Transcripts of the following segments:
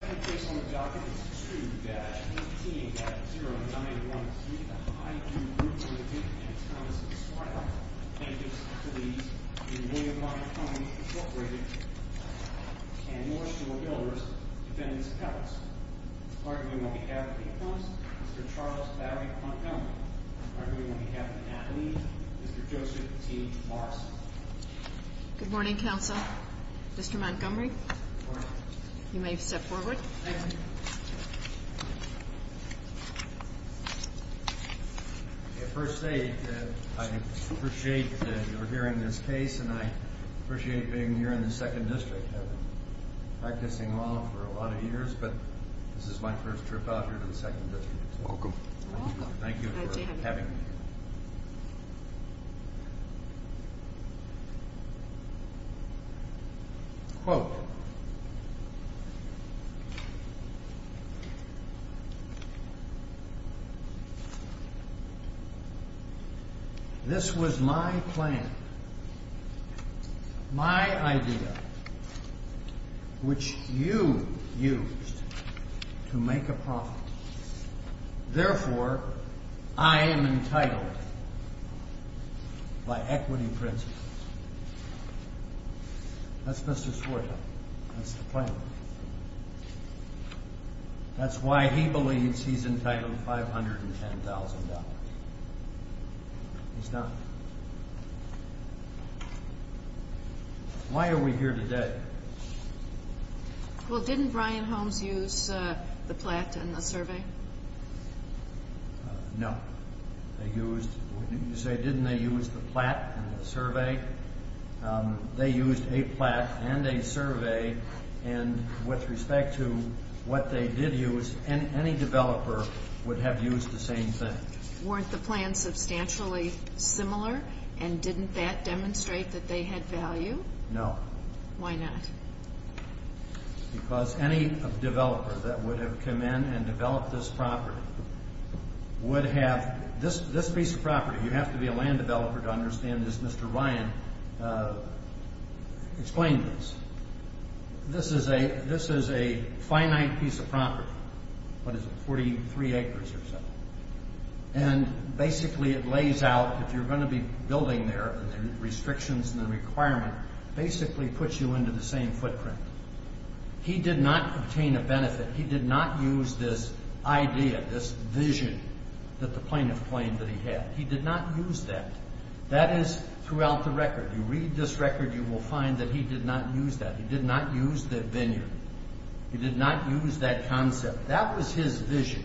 2-18-0913 The Highview Group, Ltd. v. Thomas and Swire, Natives, Police, and William Ryan Homes, Inc. and North Shore Builders, Defendants, and Puppets. On behalf of the opponents, Mr. Charles Barry Montgomery. On behalf of Anthony, Mr. Joseph T. Morrison. Good morning, Counsel. Mr. Montgomery, you may step forward. At first sight, I appreciate that you're hearing this case and I appreciate being here in the Second District. I've been practicing law for a lot of years, but this is my first trip out here to the Second District. You're welcome. Thank you for having me. Quote. That's Mr. Swire. That's the plaintiff. That's why he believes he's entitled to $510,000. He's not. Why are we here today? Well, didn't Brian Homes use the plat and the survey? No. You say, didn't they use the plat and the survey? They used a plat and a survey and with respect to what they did use, any developer would have used the same thing. Weren't the plans substantially similar and didn't that demonstrate that they had value? No. Why not? Because any developer that would have come in and developed this property would have this piece of property. You have to be a land developer to understand this. Mr. Ryan explained this. This is a finite piece of property. What is it, 43 acres or so? Basically, it lays out, if you're going to be building there, the restrictions and the requirement basically puts you into the same footprint. He did not obtain a benefit. He did not use this idea, this vision that the plaintiff claimed that he had. He did not use that. That is throughout the record. You read this record, you will find that he did not use that. He did not use the vineyard. He did not use that concept. That was his vision.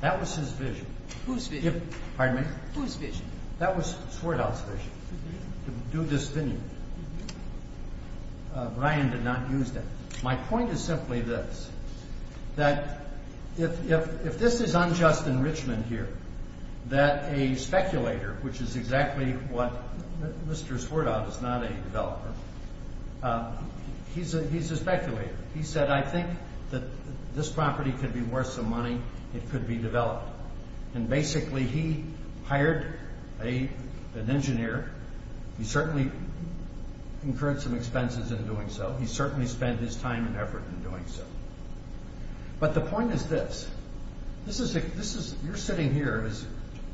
That was his vision. Whose vision? Pardon me? Whose vision? That was Swerdow's vision, to do this vineyard. Ryan did not use that. My point is simply this, that if this is unjust enrichment here, that a speculator, which is exactly what Mr. Swerdow is not a developer, he's a speculator. He said, I think that this property could be worth some money. It could be developed. And basically, he hired an engineer. He certainly incurred some expenses in doing so. He certainly spent his time and effort in doing so. But the point is this. You're sitting here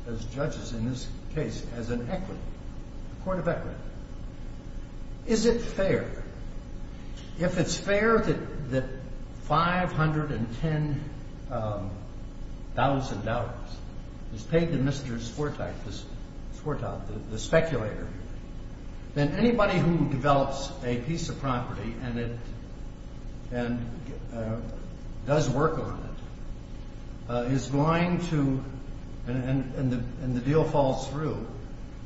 as judges in this case as an equity, a court of equity. Is it fair? If it's fair that $510,000 is paid to Mr. Swerdow, the speculator, then anybody who develops a piece of property and does work on it is going to, and the deal falls through,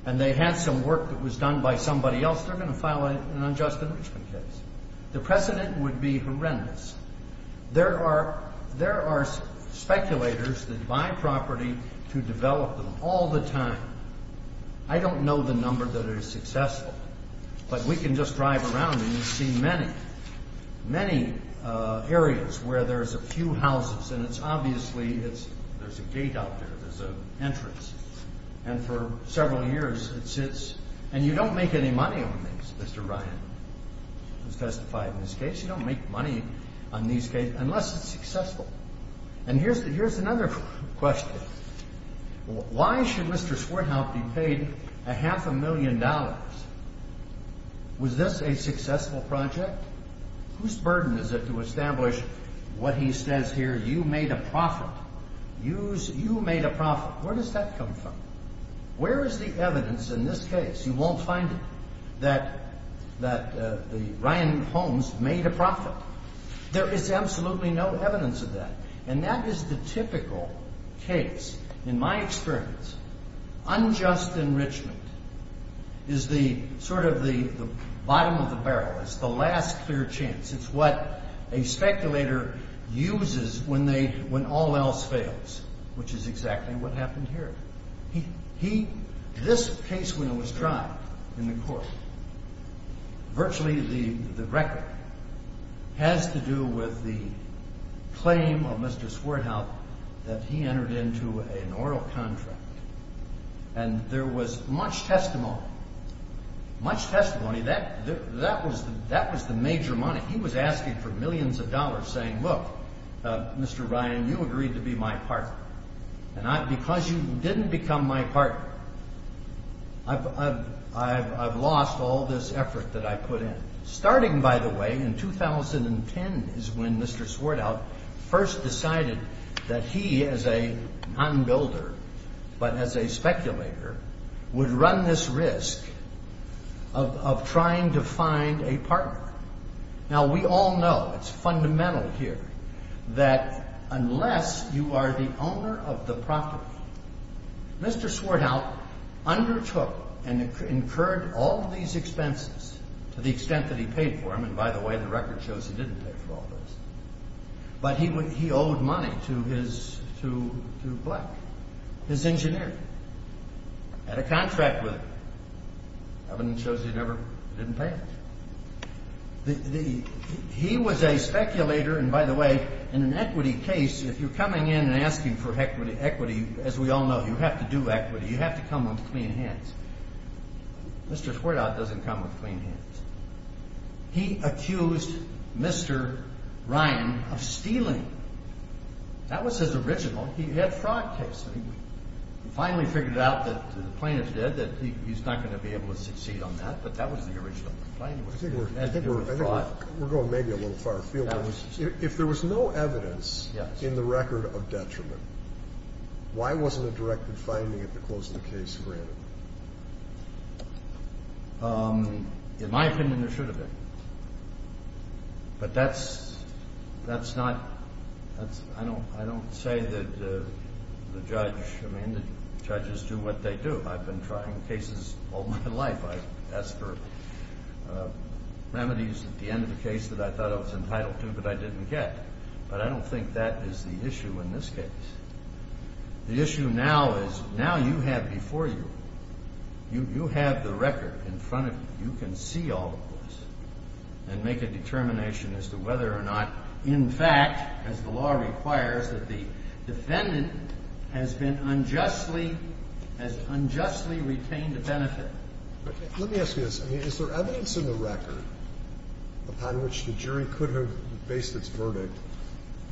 and they had some work that was done by somebody else, they're going to file an unjust enrichment case. The precedent would be horrendous. There are speculators that buy property to develop them all the time. I don't know the number that are successful, but we can just drive around and you see many, many areas where there's a few houses, and it's obviously there's a gate out there. There's an entrance. And for several years, it sits, and you don't make any money on these, Mr. Ryan has testified in this case. You don't make money on these cases unless it's successful. And here's another question. Why should Mr. Swerdow be paid a half a million dollars? Was this a successful project? Whose burden is it to establish what he says here, you made a profit? You made a profit. Where does that come from? Where is the evidence in this case, you won't find it, that Ryan Holmes made a profit? There is absolutely no evidence of that. And that is the typical case. In my experience, unjust enrichment is the sort of the bottom of the barrel. It's the last clear chance. It's what a speculator uses when all else fails, which is exactly what happened here. This case when it was tried in the court, virtually the record has to do with the claim of Mr. Swerdow that he entered into an oral contract. And there was much testimony, much testimony, that was the major money. He was asking for millions of dollars saying, look, Mr. Ryan, you agreed to be my partner. And because you didn't become my partner, I've lost all this effort that I put in. Starting, by the way, in 2010 is when Mr. Swerdow first decided that he as a non-builder, but as a speculator, would run this risk of trying to find a partner. Now, we all know, it's fundamental here, that unless you are the owner of the property, Mr. Swerdow undertook and incurred all these expenses to the extent that he paid for them. And by the way, the record shows he didn't pay for all those. But he owed money to Black, his engineer, had a contract with him. Evidence shows he never didn't pay it. He was a speculator, and by the way, in an equity case, if you're coming in and asking for equity, as we all know, you have to do equity. You have to come with clean hands. Mr. Swerdow doesn't come with clean hands. He accused Mr. Ryan of stealing. That was his original, he had fraud case. He finally figured out that the plaintiff did, that he's not going to be able to succeed on that, but that was the original complaint. I think we're going maybe a little far afield. If there was no evidence in the record of detriment, why wasn't a directed finding at the close of the case granted? In my opinion, there should have been. But that's not, I don't say that the judge, I mean the judges do what they do. I've been trying cases all my life. I've asked for remedies at the end of the case that I thought I was entitled to but I didn't get. But I don't think that is the issue in this case. The issue now is, now you have before you, you have the record in front of you. You can see all of this and make a determination as to whether or not, in fact, as the law requires, that the defendant has been unjustly, has unjustly retained a benefit. Let me ask you this. Is there evidence in the record upon which the jury could have faced its verdict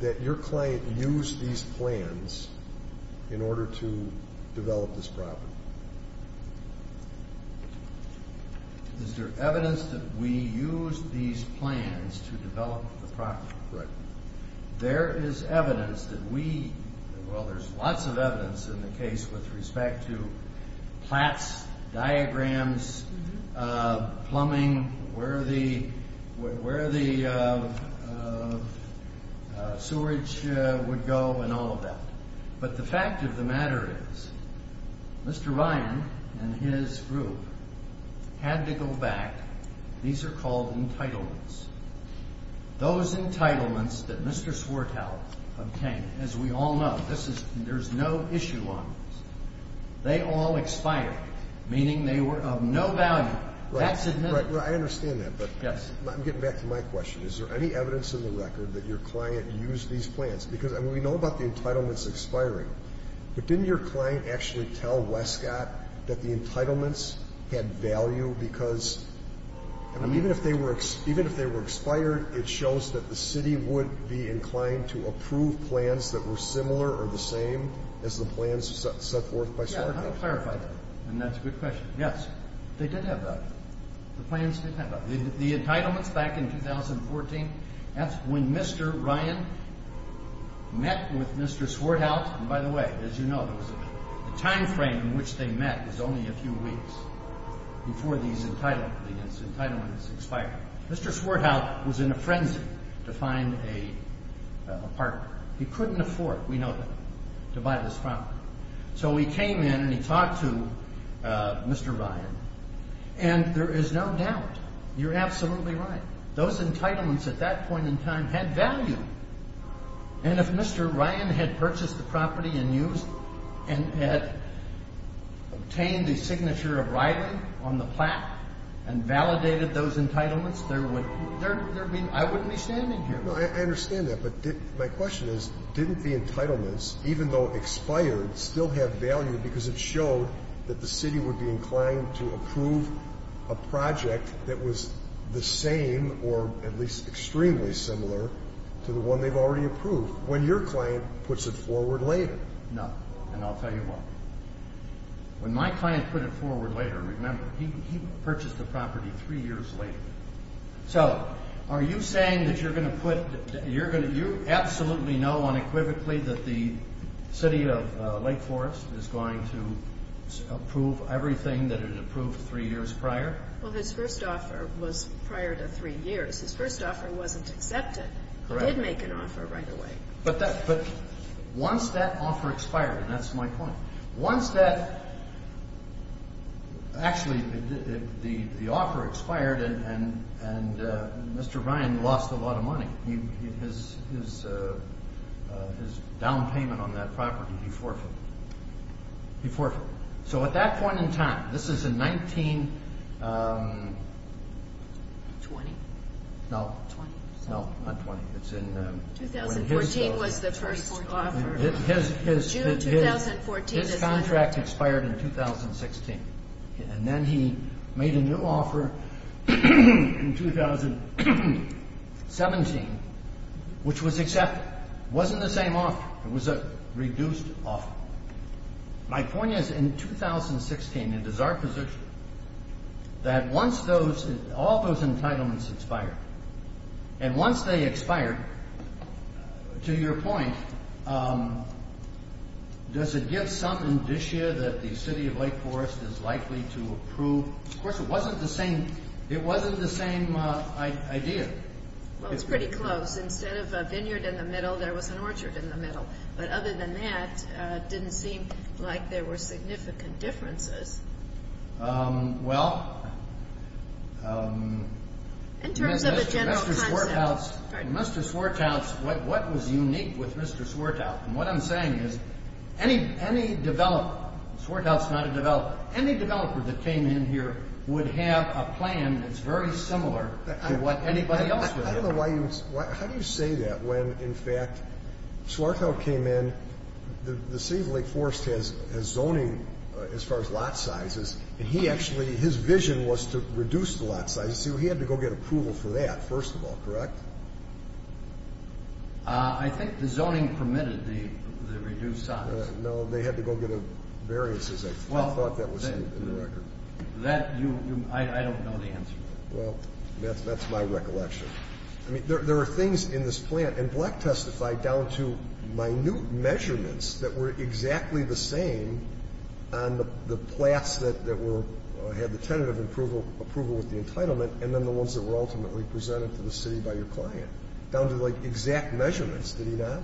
that your client used these plans in order to develop this property? Is there evidence that we used these plans to develop the property? Right. There is evidence that we, well there's lots of evidence in the case with respect to plats, diagrams, plumbing, where the sewerage would go and all of that. But the fact of the matter is, Mr. Ryan and his group had to go back. These are called entitlements. Those entitlements that Mr. Swartow obtained, as we all know, there's no issue on this. They all expired, meaning they were of no value. That's admissible. Right, right. I understand that. Yes. But I'm getting back to my question. Is there any evidence in the record that your client used these plans? Because, I mean, we know about the entitlements expiring. But didn't your client actually tell Wescott that the entitlements had value? Because, I mean, even if they were expired, it shows that the city would be inclined to approve plans that were similar or the same as the plans set forth by Swartow. Yeah, I don't clarify that. And that's a good question. Yes. They did have value. The plans did have value. The entitlements back in 2014, that's when Mr. Ryan met with Mr. Swartow. And, by the way, as you know, the time frame in which they met is only a few weeks before these entitlements expire. Mr. Swartow was in a frenzy to find a partner. He couldn't afford, we know that, to buy this property. So he came in and he talked to Mr. Ryan. And there is no doubt. You're absolutely right. Those entitlements at that point in time had value. And if Mr. Ryan had purchased the property and obtained the signature of Riley on the plaque and validated those entitlements, I wouldn't be standing here. I understand that. But my question is, didn't the entitlements, even though expired, still have value because it showed that the city would be inclined to approve a project that was the same or at least extremely similar to the one they've already approved when your client puts it forward later? No. And I'll tell you what. When my client put it forward later, remember, he purchased the property three years later. So are you saying that you're going to put, you absolutely know unequivocally that the city of Lake Forest is going to approve everything that it approved three years prior? Well, his first offer was prior to three years. His first offer wasn't accepted. He did make an offer right away. But once that offer expired, and that's my point. Once that – actually, the offer expired and Mr. Ryan lost a lot of money. His down payment on that property, he forfeited. He forfeited. So at that point in time, this is in 19 – 20. No. 20. No, not 20. It's in – 2014 was the first offer. June 2014. His contract expired in 2016. And then he made a new offer in 2017, which was accepted. It wasn't the same offer. It was a reduced offer. My point is in 2016, it is our position that once those – all those entitlements expire, and once they expire, to your point, does it give some indicia that the City of Lake Forest is likely to approve? Of course, it wasn't the same idea. Well, it's pretty close. Instead of a vineyard in the middle, there was an orchard in the middle. But other than that, it didn't seem like there were significant differences. Well – In terms of a general concept. Mr. Swartout, what was unique with Mr. Swartout, and what I'm saying is any developer – Swartout's not a developer – any developer that came in here would have a plan that's very similar to what anybody else would have. I don't know why you – how do you say that when, in fact, Swartout came in, the City of Lake Forest has zoning as far as lot sizes, and he actually – his vision was to reduce the lot sizes. See, he had to go get approval for that, first of all, correct? I think the zoning permitted the reduced size. No, they had to go get a variance, as I thought that was in the record. Well, that – you – I don't know the answer. Well, that's my recollection. I mean, there are things in this plan – and Black testified down to minute measurements that were exactly the same on the plats that were – had the tentative approval with the entitlement, and then the ones that were ultimately presented to the city by your client, down to, like, exact measurements. Did he not?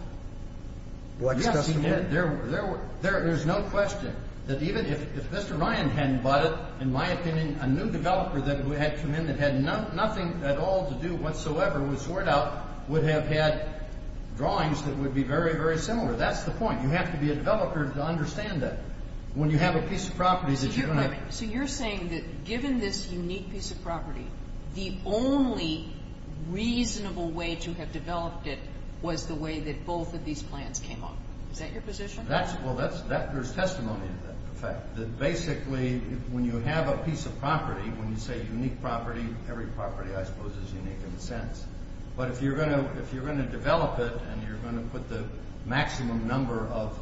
Yes, he did. There were – there's no question that even if Mr. Ryan hadn't bought it, in my opinion, a new developer that had come in that had nothing at all to do whatsoever with Swartout would have had drawings that would be very, very similar. That's the point. You have to be a developer to understand that. When you have a piece of property that you're going to – Wait a minute. So you're saying that given this unique piece of property, the only reasonable way to have developed it was the way that both of these plans came up. Is that your position? That's – well, that's – there's testimony to that fact. That basically, when you have a piece of property, when you say unique property, every property, I suppose, is unique in a sense. But if you're going to develop it and you're going to put the maximum number of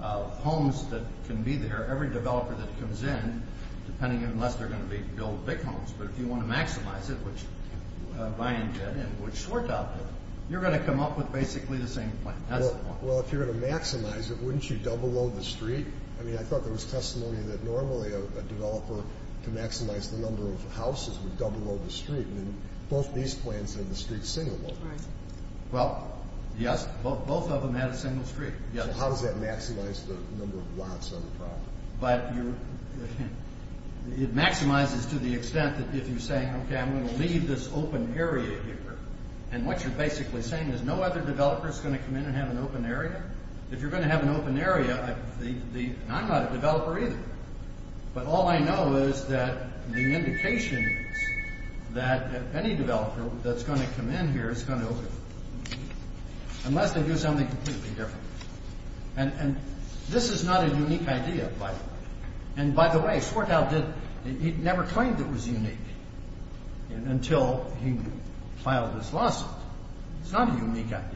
homes that can be there, every developer that comes in, depending on unless they're going to build big homes, but if you want to maximize it, which Ryan did and which Swartout did, you're going to come up with basically the same plan. That's the point. Well, if you're going to maximize it, wouldn't you double-load the street? I mean, I thought there was testimony that normally a developer to maximize the number of houses would double-load the street. Both these plans had the street single-loaded. Well, yes, both of them had a single street. So how does that maximize the number of lots on the property? But it maximizes to the extent that if you're saying, okay, I'm going to leave this open area here, and what you're basically saying is no other developer is going to come in and have an open area? If you're going to have an open area, I'm not a developer either, but all I know is that the indication is that any developer that's going to come in here is going to open it, unless they do something completely different. And this is not a unique idea, by the way. And, by the way, Swartout, he never claimed it was unique until he filed this lawsuit. It's not a unique idea.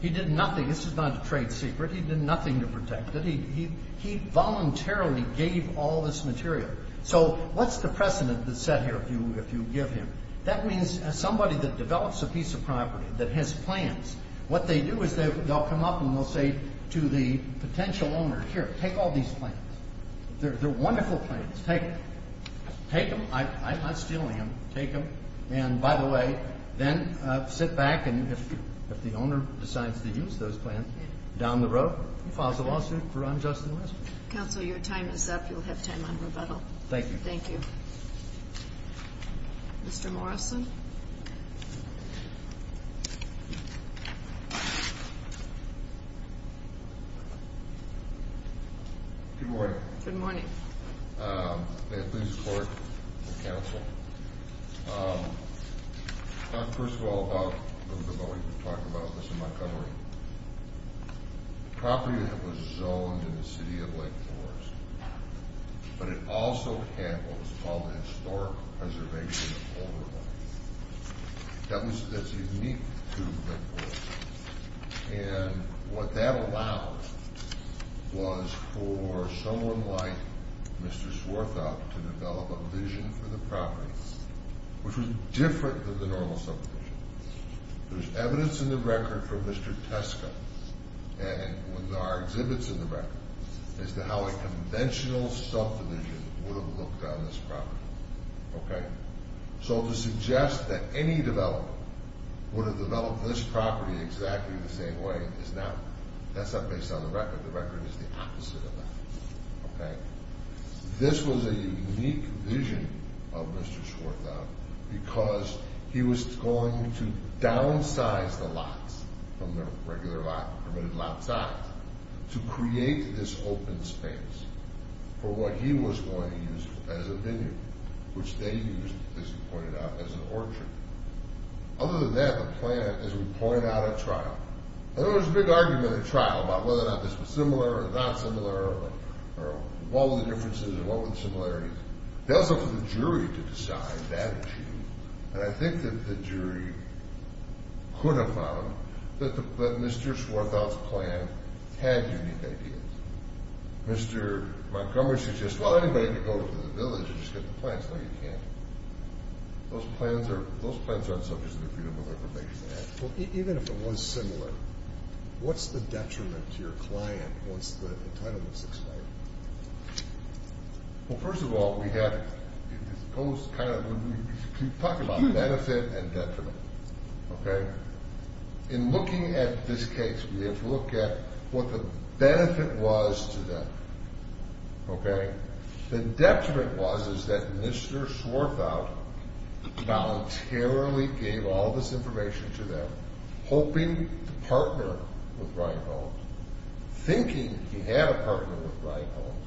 He did nothing. This is not a trade secret. He did nothing to protect it. He voluntarily gave all this material. So what's the precedent that's set here if you give him? That means somebody that develops a piece of property that has plans, what they do is they'll come up and they'll say to the potential owner, here, take all these plans. They're wonderful plans. Take them. I'm not stealing them. Take them. And, by the way, then sit back, and if the owner decides to use those plans down the road, he files a lawsuit for unjust investment. Counsel, your time is up. You'll have time on rebuttal. Thank you. Thank you. Mr. Morrison. Good morning. May it please the Court and counsel. First of all, about when we were talking about this in Montgomery, the property that was zoned in the city of Lake Forest, but it also had what was called a historic preservation of older land. That's unique to Lake Forest. And what that allowed was for someone like Mr. Swarthout to develop a vision for the property which was different than the normal subdivision. There's evidence in the record from Mr. Teska, and there are exhibits in the record, as to how a conventional subdivision would have looked on this property. Okay? So to suggest that any developer would have developed this property exactly the same way, that's not based on the record. The record is the opposite of that. Okay? This was a unique vision of Mr. Swarthout because he was going to downsize the lots from the regular lot, permitted lot size, to create this open space for what he was going to use as a venue, which they used, as you pointed out, as an orchard. Other than that, the plan, as we pointed out at trial, there was a big argument at trial about whether or not this was similar or not similar or what were the differences and what were the similarities. It was up to the jury to decide that issue. And I think that the jury could have found that Mr. Swarthout's plan had unique ideas. Mr. Montgomery suggested, well, anybody can go to the village and just get the plans. No, you can't. Those plans aren't subject to the Freedom of Information Act. Well, even if it was similar, what's the detriment to your client once the entitlement is expired? Well, first of all, we have to talk about benefit and detriment, okay? In looking at this case, we have to look at what the benefit was to them, okay? The detriment was is that Mr. Swarthout voluntarily gave all this information to them, hoping to partner with Brian Holmes, thinking he had a partner with Brian Holmes.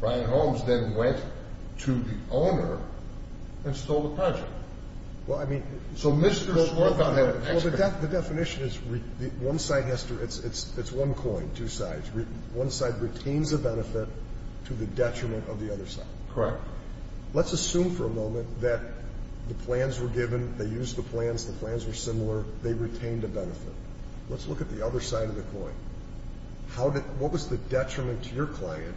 Brian Holmes then went to the owner and stole the project. Well, I mean, so Mr. Swarthout had an expert. Well, the definition is one side has to, it's one coin, two sides. One side retains a benefit to the detriment of the other side. Correct. Let's assume for a moment that the plans were given. They used the plans. The plans were similar. They retained a benefit. Let's look at the other side of the coin. What was the detriment to your client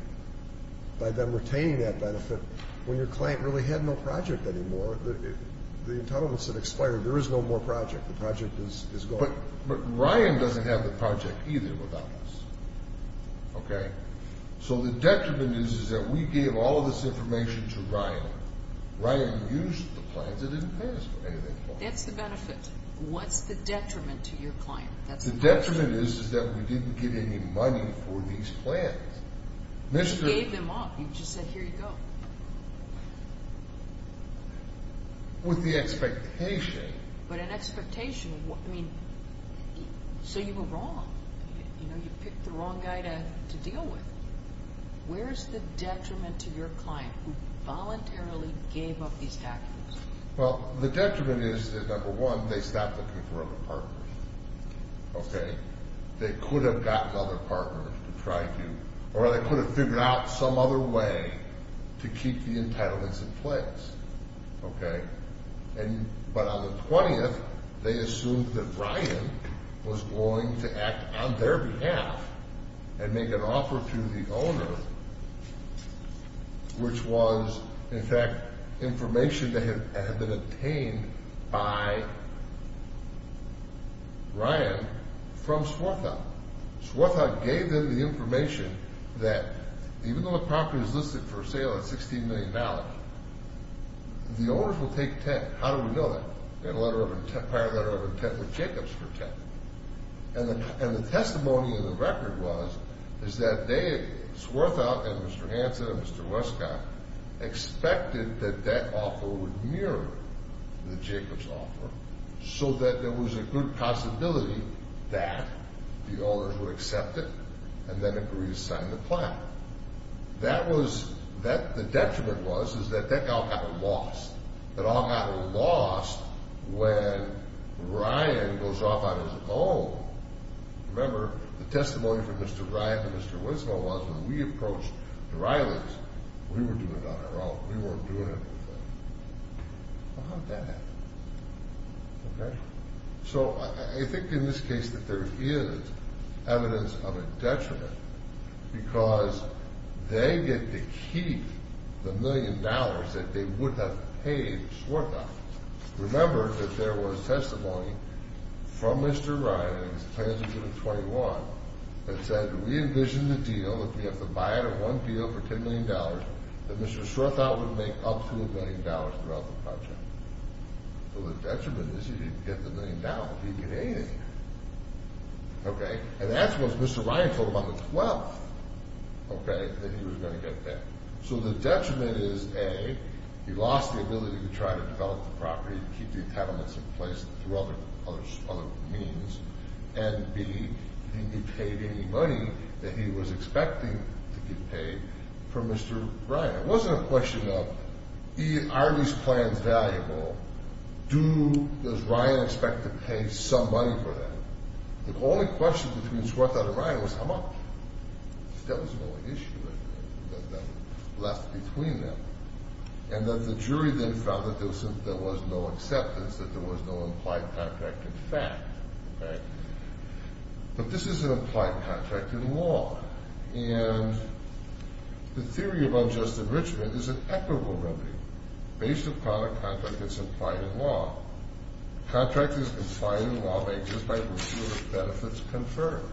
by them retaining that benefit when your client really had no project anymore? The entitlement's expired. There is no more project. The project is gone. But Brian doesn't have the project either without us, okay? So the detriment is is that we gave all of this information to Brian. Brian used the plans. It didn't pay us for any of that money. That's the benefit. What's the detriment to your client? The detriment is is that we didn't get any money for these plans. You gave them up. You just said, here you go. With the expectation. But an expectation, I mean, so you were wrong. You picked the wrong guy to deal with. Where's the detriment to your client who voluntarily gave up these documents? Well, the detriment is that, number one, they stopped looking for other partners, okay? They could have gotten other partners to try to, or they could have figured out some other way to keep the entitlements in place, okay? But on the 20th, they assumed that Brian was going to act on their behalf and make an offer to the owner, which was, in fact, information that had been obtained by Brian from Swartha. Swartha gave them the information that even though the property is listed for sale at $16 million, the owners will take 10. How do we know that? They had a prior letter of intent with Jacobs for 10. And the testimony in the record was that they, Swartha and Mr. Hanson and Mr. Wescott, expected that that offer would mirror the Jacobs offer so that there was a good possibility that the owners would accept it and then agree to sign the plan. That was, the detriment was, is that that all got lost. It all got lost when Brian goes off on his own. Remember, the testimony from Mr. Ryan and Mr. Wescott was when we approached the Reilings, we were doing it on our own. We weren't doing anything. Well, how did that happen, okay? So, I think in this case that there is evidence of a detriment because they get to keep the million dollars that they would have paid Swartha. Remember that there was testimony from Mr. Ryan in his plans for 2021 that said, we envisioned the deal that if we have to buy out of one deal for $10 million, that Mr. Swartha would make up to a million dollars throughout the project. So, the detriment is you didn't get the million dollars. You didn't get anything, okay? And that's what Mr. Ryan told him on the 12th, okay, that he was going to get back. So, the detriment is, A, he lost the ability to try to develop the property and keep the entitlements in place through other means, and B, he didn't get paid any money that he was expecting to get paid from Mr. Ryan. It wasn't a question of, are these plans valuable? Does Ryan expect to pay some money for that? The only question between Swartha and Ryan was, how much? That was the only issue that was left between them. And that the jury then found that there was no acceptance, that there was no implied contract in fact, okay? But this is an implied contract in law. And the theory of unjust enrichment is an equitable remedy based upon a contract that's implied in law. Contract is implied in law by a jury if benefits confirm.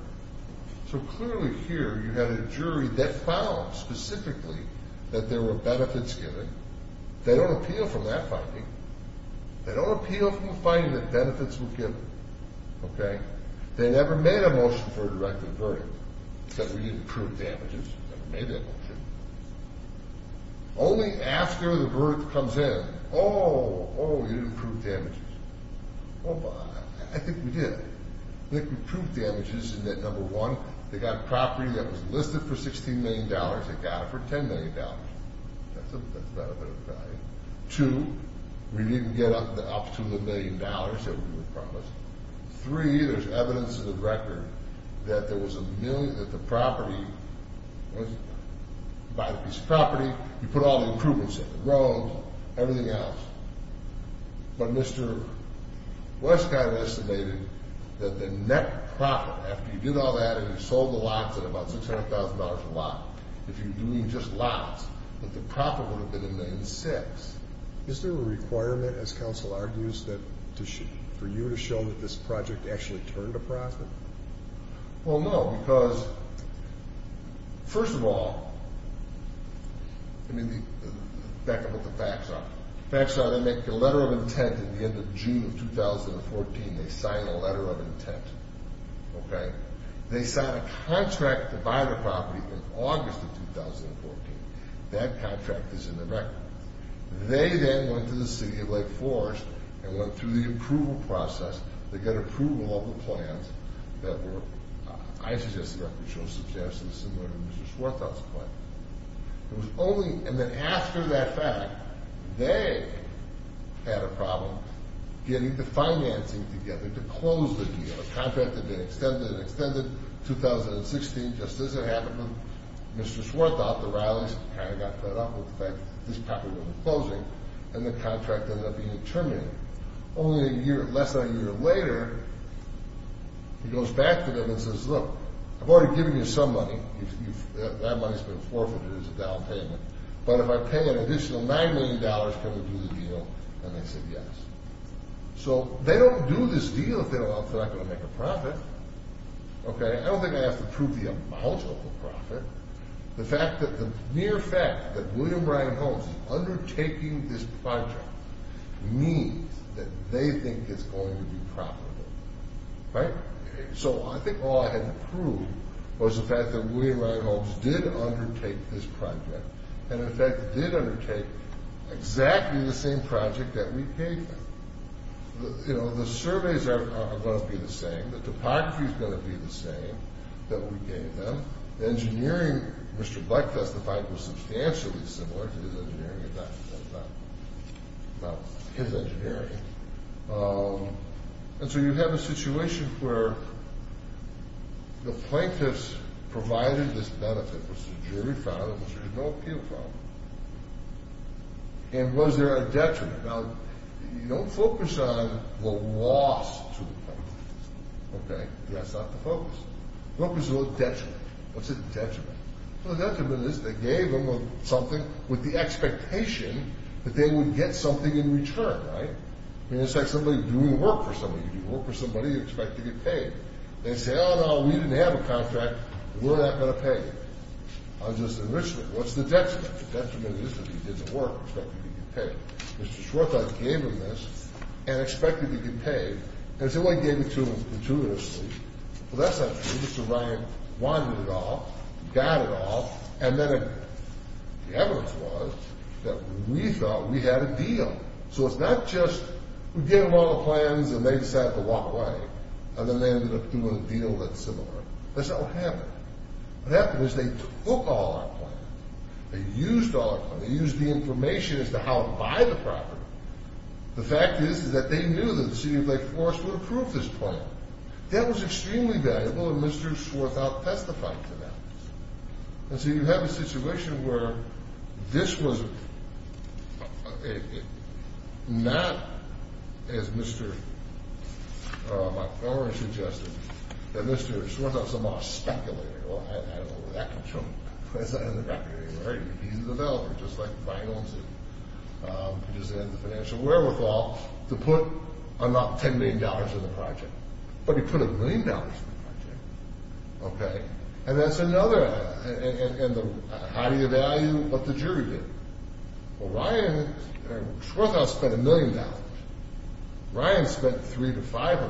So, clearly here, you had a jury that found specifically that there were benefits given. They don't appeal from that finding. They don't appeal from the finding that benefits were given, okay? They never made a motion for a directed verdict. Said we need to prove damages. Never made that motion. Only after the verdict comes in, oh, oh, you didn't prove damages. Well, I think we did. I think we proved damages in that, number one, they got a property that was listed for $16 million. They got it for $10 million. That's not a bad value. Two, we didn't get up to the million dollars that we were promised. Three, there's evidence in the record that there was a million that the property was, by this property, you put all the improvements in, the roads, everything else. But Mr. Westcott estimated that the net profit after you did all that and you sold the lots at about $600,000 a lot, if you were doing just lots, that the profit would have been a million six. Is there a requirement, as counsel argues, for you to show that this project actually turned a profit? Well, no, because, first of all, I mean, back to what the facts are. The facts are they make a letter of intent at the end of June of 2014. They sign a letter of intent, okay? They sign a contract to buy the property in August of 2014. That contract is in the record. They then went to the city of Lake Forest and went through the approval process to get approval of the plans that were, I suggest the record shows, suggested similar to Mr. Swarthout's plan. It was only, and then after that fact, they had a problem getting the financing together to close the deal. Just as it happened with Mr. Swarthout, the rallies kind of got fed up with the fact that this property would be closing, and the contract ended up being terminated. Only a year, less than a year later, he goes back to them and says, look, I've already given you some money. That money's been forfeited as a down payment. But if I pay an additional $9 million, can we do the deal? And they said yes. So they don't do this deal if they're not going to make a profit, okay? I don't think I have to prove the amount of the profit. The mere fact that William Ryan Holmes is undertaking this project means that they think it's going to be profitable, right? So I think all I had to prove was the fact that William Ryan Holmes did undertake this project, and in fact did undertake exactly the same project that we paid for. You know, the surveys are going to be the same. The topography is going to be the same that we gave them. The engineering Mr. Bleck testified was substantially similar to his engineering. That was not his engineering. And so you have a situation where the plaintiffs provided this benefit, which the jury found, and which there is no appeal from. And was there a detriment? Now, don't focus on the loss to the plaintiffs, okay? That's not the focus. Focus on the detriment. What's the detriment? Well, the detriment is they gave them something with the expectation that they would get something in return, right? It's like somebody doing work for somebody. You do work for somebody, you expect to get paid. They say, oh, no, we didn't have a contract. We're not going to pay you. I'm just an enrichment. What's the detriment? The detriment is that he did the work, expected he'd get paid. Mr. Schwartz gave him this and expected he'd get paid. And somebody gave it to him gratuitously. Well, that's not true. Mr. Ryan wanted it all, got it all, and then the evidence was that we thought we had a deal. So it's not just we gave them all the plans and they decided to walk away, and then they ended up doing a deal that's similar. That's not what happened. What happened is they took all our plans. They used all our plans. They used the information as to how to buy the property. The fact is that they knew that the city of Lake Forest would approve this plan. That was extremely valuable, and Mr. Schwartz out testified to that. And so you have a situation where this was not, as Mr. McElroy suggested, that Mr. Schwartz was a mock speculator. Well, I don't know where that comes from. He's a developer, just like Ryan owns it. He just has the financial wherewithal to put not $10 million in the project, but he put $1 million in the project. And that's another, and how do you value what the jury did? Well, Ryan, Schwartz spent $1 million. Ryan spent $300,000 to $500,000.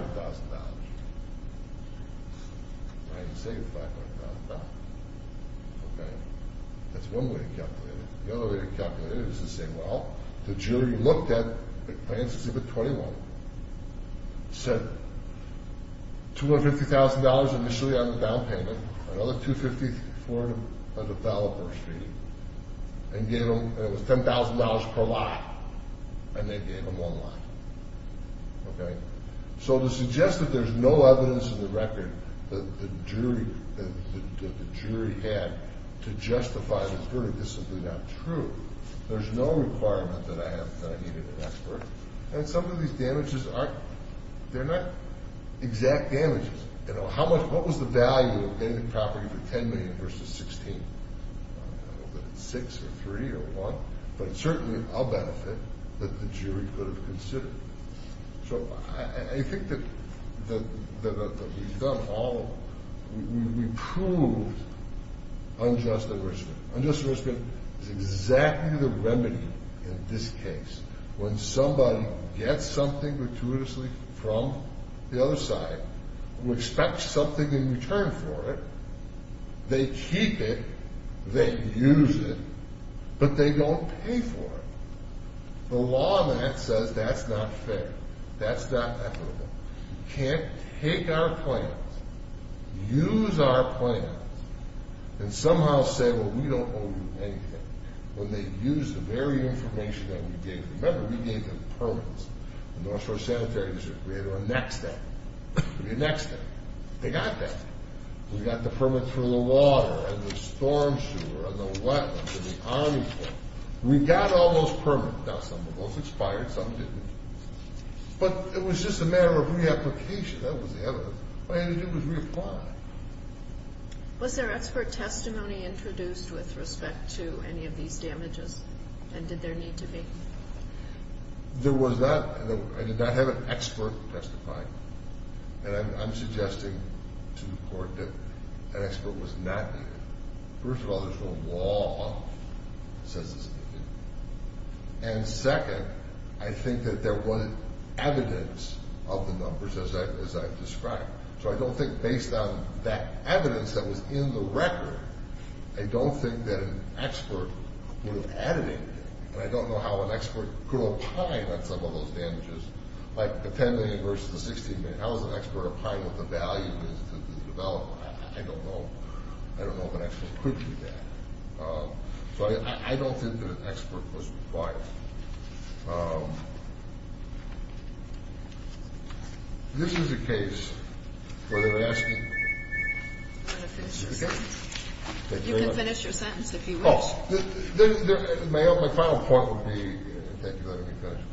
Ryan saved $500,000. That's one way to calculate it. The other way to calculate it is to say, well, the jury looked at plans exhibit 21, said $250,000 initially on the down payment, another $250,000, $400,000 per fee, and it was $10,000 per lot, and they gave him one lot. Okay? So to suggest that there's no evidence in the record that the jury had to justify this verdict, this is not true. There's no requirement that I needed an expert. And some of these damages, they're not exact damages. You know, what was the value of getting the property for $10 million versus $16? I don't know if it's six or three or one, but it's certainly a benefit that the jury could have considered. So I think that we've done all of them. We proved unjust arrest. Unjust arrest is exactly the remedy in this case. When somebody gets something gratuitously from the other side, expects something in return for it, they keep it, they use it, but they don't pay for it. The law on that says that's not fair. That's not equitable. You can't take our plans, use our plans, and somehow say, well, we don't owe you anything, when they use the very information that we gave. Remember, we gave them permits. The North Shore Sanitary District, we had to annex that. We annexed that. They got that. We got the permit for the water and the storm sewer and the wetlands and the Army Corps. We got all those permits. Now, some of those expired, some didn't. But it was just a matter of reapplication. That was the evidence. All you had to do was reapply. Was there expert testimony introduced with respect to any of these damages? And did there need to be? There was not. I did not have an expert testify. And I'm suggesting to the Court that an expert was not needed. First of all, there's no law that says it's needed. And second, I think that there was evidence of the numbers, as I've described. So I don't think, based on that evidence that was in the record, I don't think that an expert would have added anything. And I don't know how an expert could opine on some of those damages, like the $10 million versus the $16 million. How does an expert opine what the value is to the developer? I don't know. I don't know if an expert could do that. So I don't think that an expert was required. This is a case where they're asking. I'm going to finish your sentence. You can finish your sentence if you wish. My final point would be, thank you for letting me finish,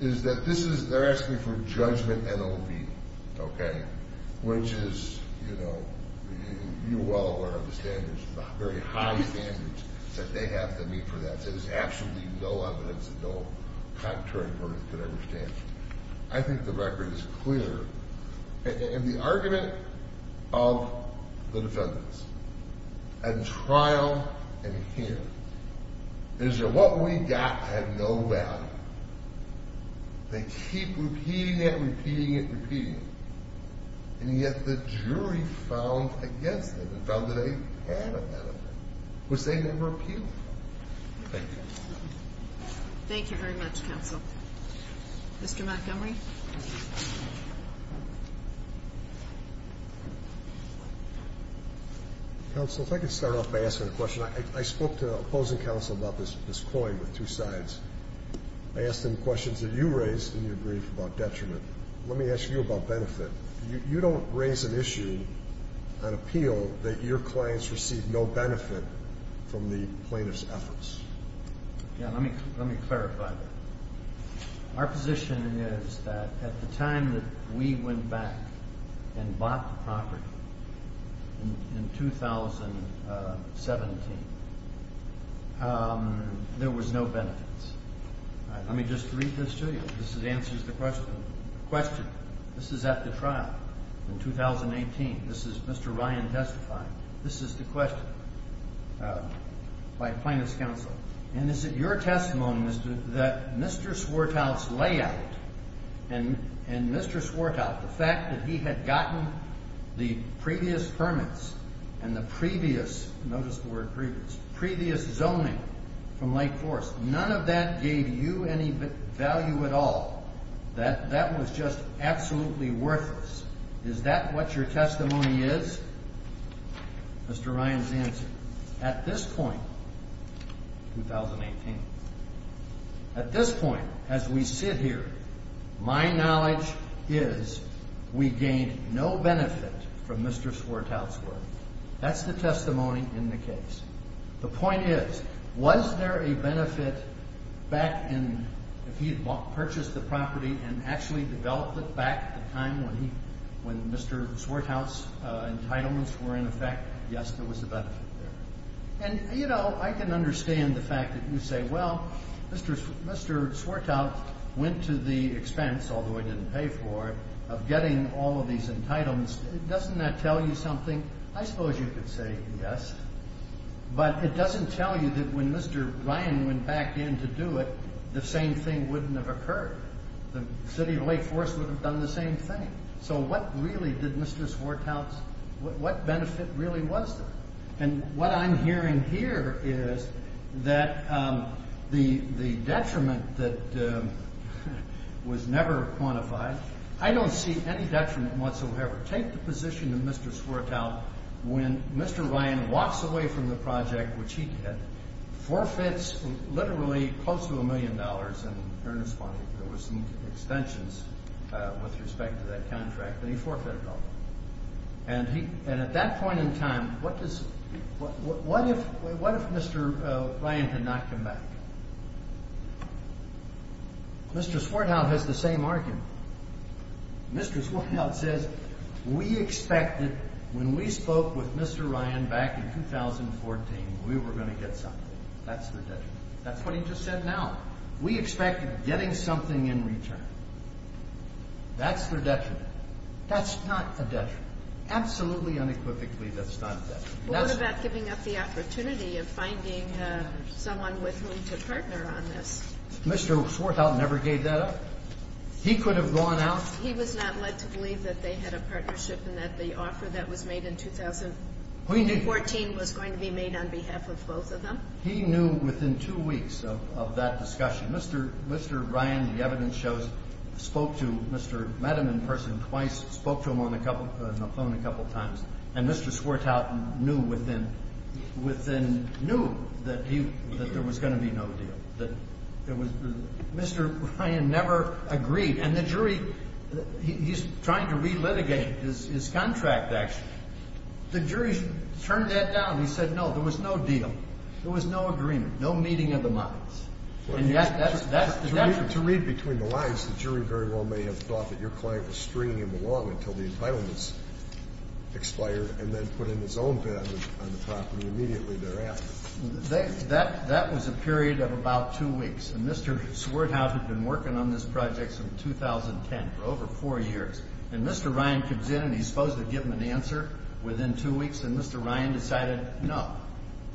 is that they're asking for judgment NOV, okay, which is, you know, you all are aware of the standards, the very high standards that they have to meet for that. There's absolutely no evidence that no contrary court could ever stand. I think the record is clear. And the argument of the defendants at trial and here is that what we got had no value. They keep repeating it, repeating it, repeating it. And yet the jury found against them and found that they had a benefit, which they never appealed for. Thank you. Thank you very much, counsel. Mr. Montgomery. Counsel, if I could start off by asking a question. I spoke to opposing counsel about this coin with two sides. I asked him questions that you raised in your brief about detriment. Let me ask you about benefit. You don't raise an issue, an appeal, that your clients receive no benefit from the plaintiff's efforts. Yeah, let me clarify that. Our position is that at the time that we went back and bought the property in 2017, there was no benefits. Let me just read this to you. This answers the question. This is at the trial in 2018. This is Mr. Ryan testifying. This is the question by plaintiff's counsel. And is it your testimony that Mr. Swartow's layout and Mr. Swartow, the fact that he had gotten the previous permits and the previous, notice the word previous, previous zoning from Lake Forest, none of that gave you any value at all? That was just absolutely worthless. Is that what your testimony is? Mr. Ryan's answer. At this point, 2018, at this point, as we sit here, my knowledge is we gained no benefit from Mr. Swartow's work. That's the testimony in the case. The point is, was there a benefit back in if he had purchased the property and actually developed it back at the time when he, when Mr. Swartow's entitlements were in effect, yes, there was a benefit there. And, you know, I can understand the fact that you say, well, Mr. Swartow went to the expense, although he didn't pay for it, of getting all of these entitlements. Doesn't that tell you something? I suppose you could say yes, but it doesn't tell you that when Mr. Ryan went back in to do it, the same thing wouldn't have occurred. The city of Lake Forest would have done the same thing. So what really did Mr. Swartow's, what benefit really was there? And what I'm hearing here is that the detriment that was never quantified, I don't see any detriment whatsoever. Take the position that Mr. Swartow, when Mr. Ryan walks away from the project, which he did, forfeits literally close to a million dollars in earnest money. There were some extensions with respect to that contract, but he forfeited all of them. And at that point in time, what if Mr. Ryan had not come back? Mr. Swartow has the same argument. Mr. Swartow says, we expected when we spoke with Mr. Ryan back in 2014, we were going to get something. That's the detriment. That's what he just said now. We expected getting something in return. That's the detriment. That's not a detriment. Absolutely unequivocally, that's not a detriment. What about giving up the opportunity of finding someone with whom to partner on this? Mr. Swartow never gave that up. He could have gone out. He was not led to believe that they had a partnership and that the offer that was made in 2014 was going to be made on behalf of both of them. He knew within two weeks of that discussion. Mr. Ryan, the evidence shows, spoke to Mr. Mediman in person twice, spoke to him on the phone a couple times, and Mr. Swartow knew that there was going to be no deal. Mr. Ryan never agreed. And the jury, he's trying to relitigate his contract, actually. The jury turned that down. He said no, there was no deal. There was no agreement, no meeting of the minds. And yet that's the detriment. To read between the lines, the jury very well may have thought that your client was stringing him along until the entitlements expired and then put him in his own bed on the property immediately thereafter. That was a period of about two weeks. And Mr. Swartow had been working on this project since 2010 for over four years. And Mr. Ryan comes in and he's supposed to give him an answer within two weeks, and Mr. Ryan decided no,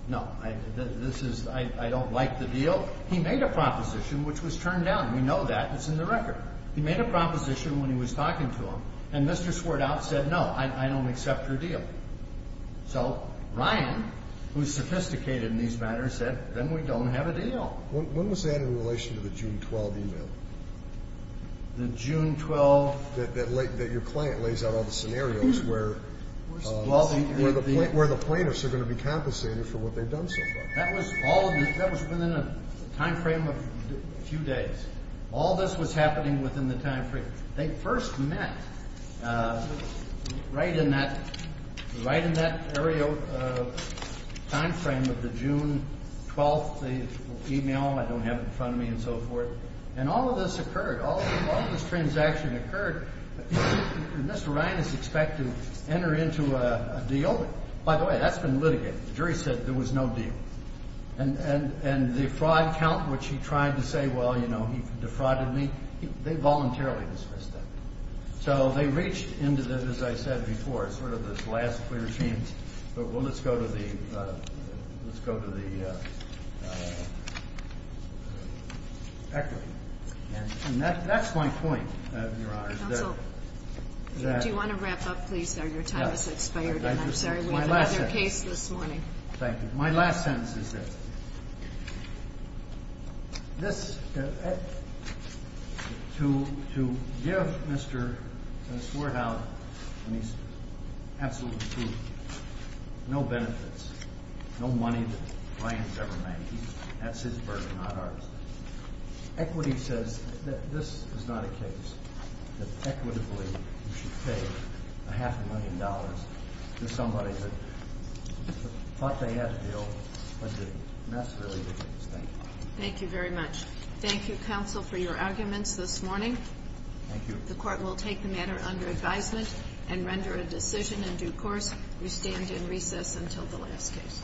no, I don't like the deal. He made a proposition which was turned down. We know that. It's in the record. He made a proposition when he was talking to him, and Mr. Swartow said no, I don't accept your deal. So Ryan, who is sophisticated in these matters, said then we don't have a deal. When was that in relation to the June 12th e-mail? The June 12th. That your client lays out all the scenarios where the plaintiffs are going to be compensated for what they've done so far. That was within a time frame of a few days. All this was happening within the time frame. They first met right in that time frame of the June 12th e-mail. I don't have it in front of me and so forth. And all of this occurred. All of this transaction occurred. Mr. Ryan is expected to enter into a deal. By the way, that's been litigated. The jury said there was no deal. And the fraud count, which he tried to say, well, you know, he defrauded me, they voluntarily dismissed that. So they reached into this, as I said before, sort of this last clear sheet. But let's go to the equity. And that's my point, Your Honors. Counsel, do you want to wrap up, please, sir? Your time has expired. And I'm sorry, we have another case this morning. Thank you. My last sentence is this. To give Mr. Swerdow, and he's absolutely true, no benefits, no money that Ryan has ever made, that's his burden, not ours. Equity says that this is not a case that equitably you should pay a half a million dollars to somebody that thought they had a deal, but didn't. And that's really the case. Thank you. Thank you very much. Thank you, Counsel, for your arguments this morning. Thank you. The Court will take the matter under advisement and render a decision in due course. We stand in recess until the last case.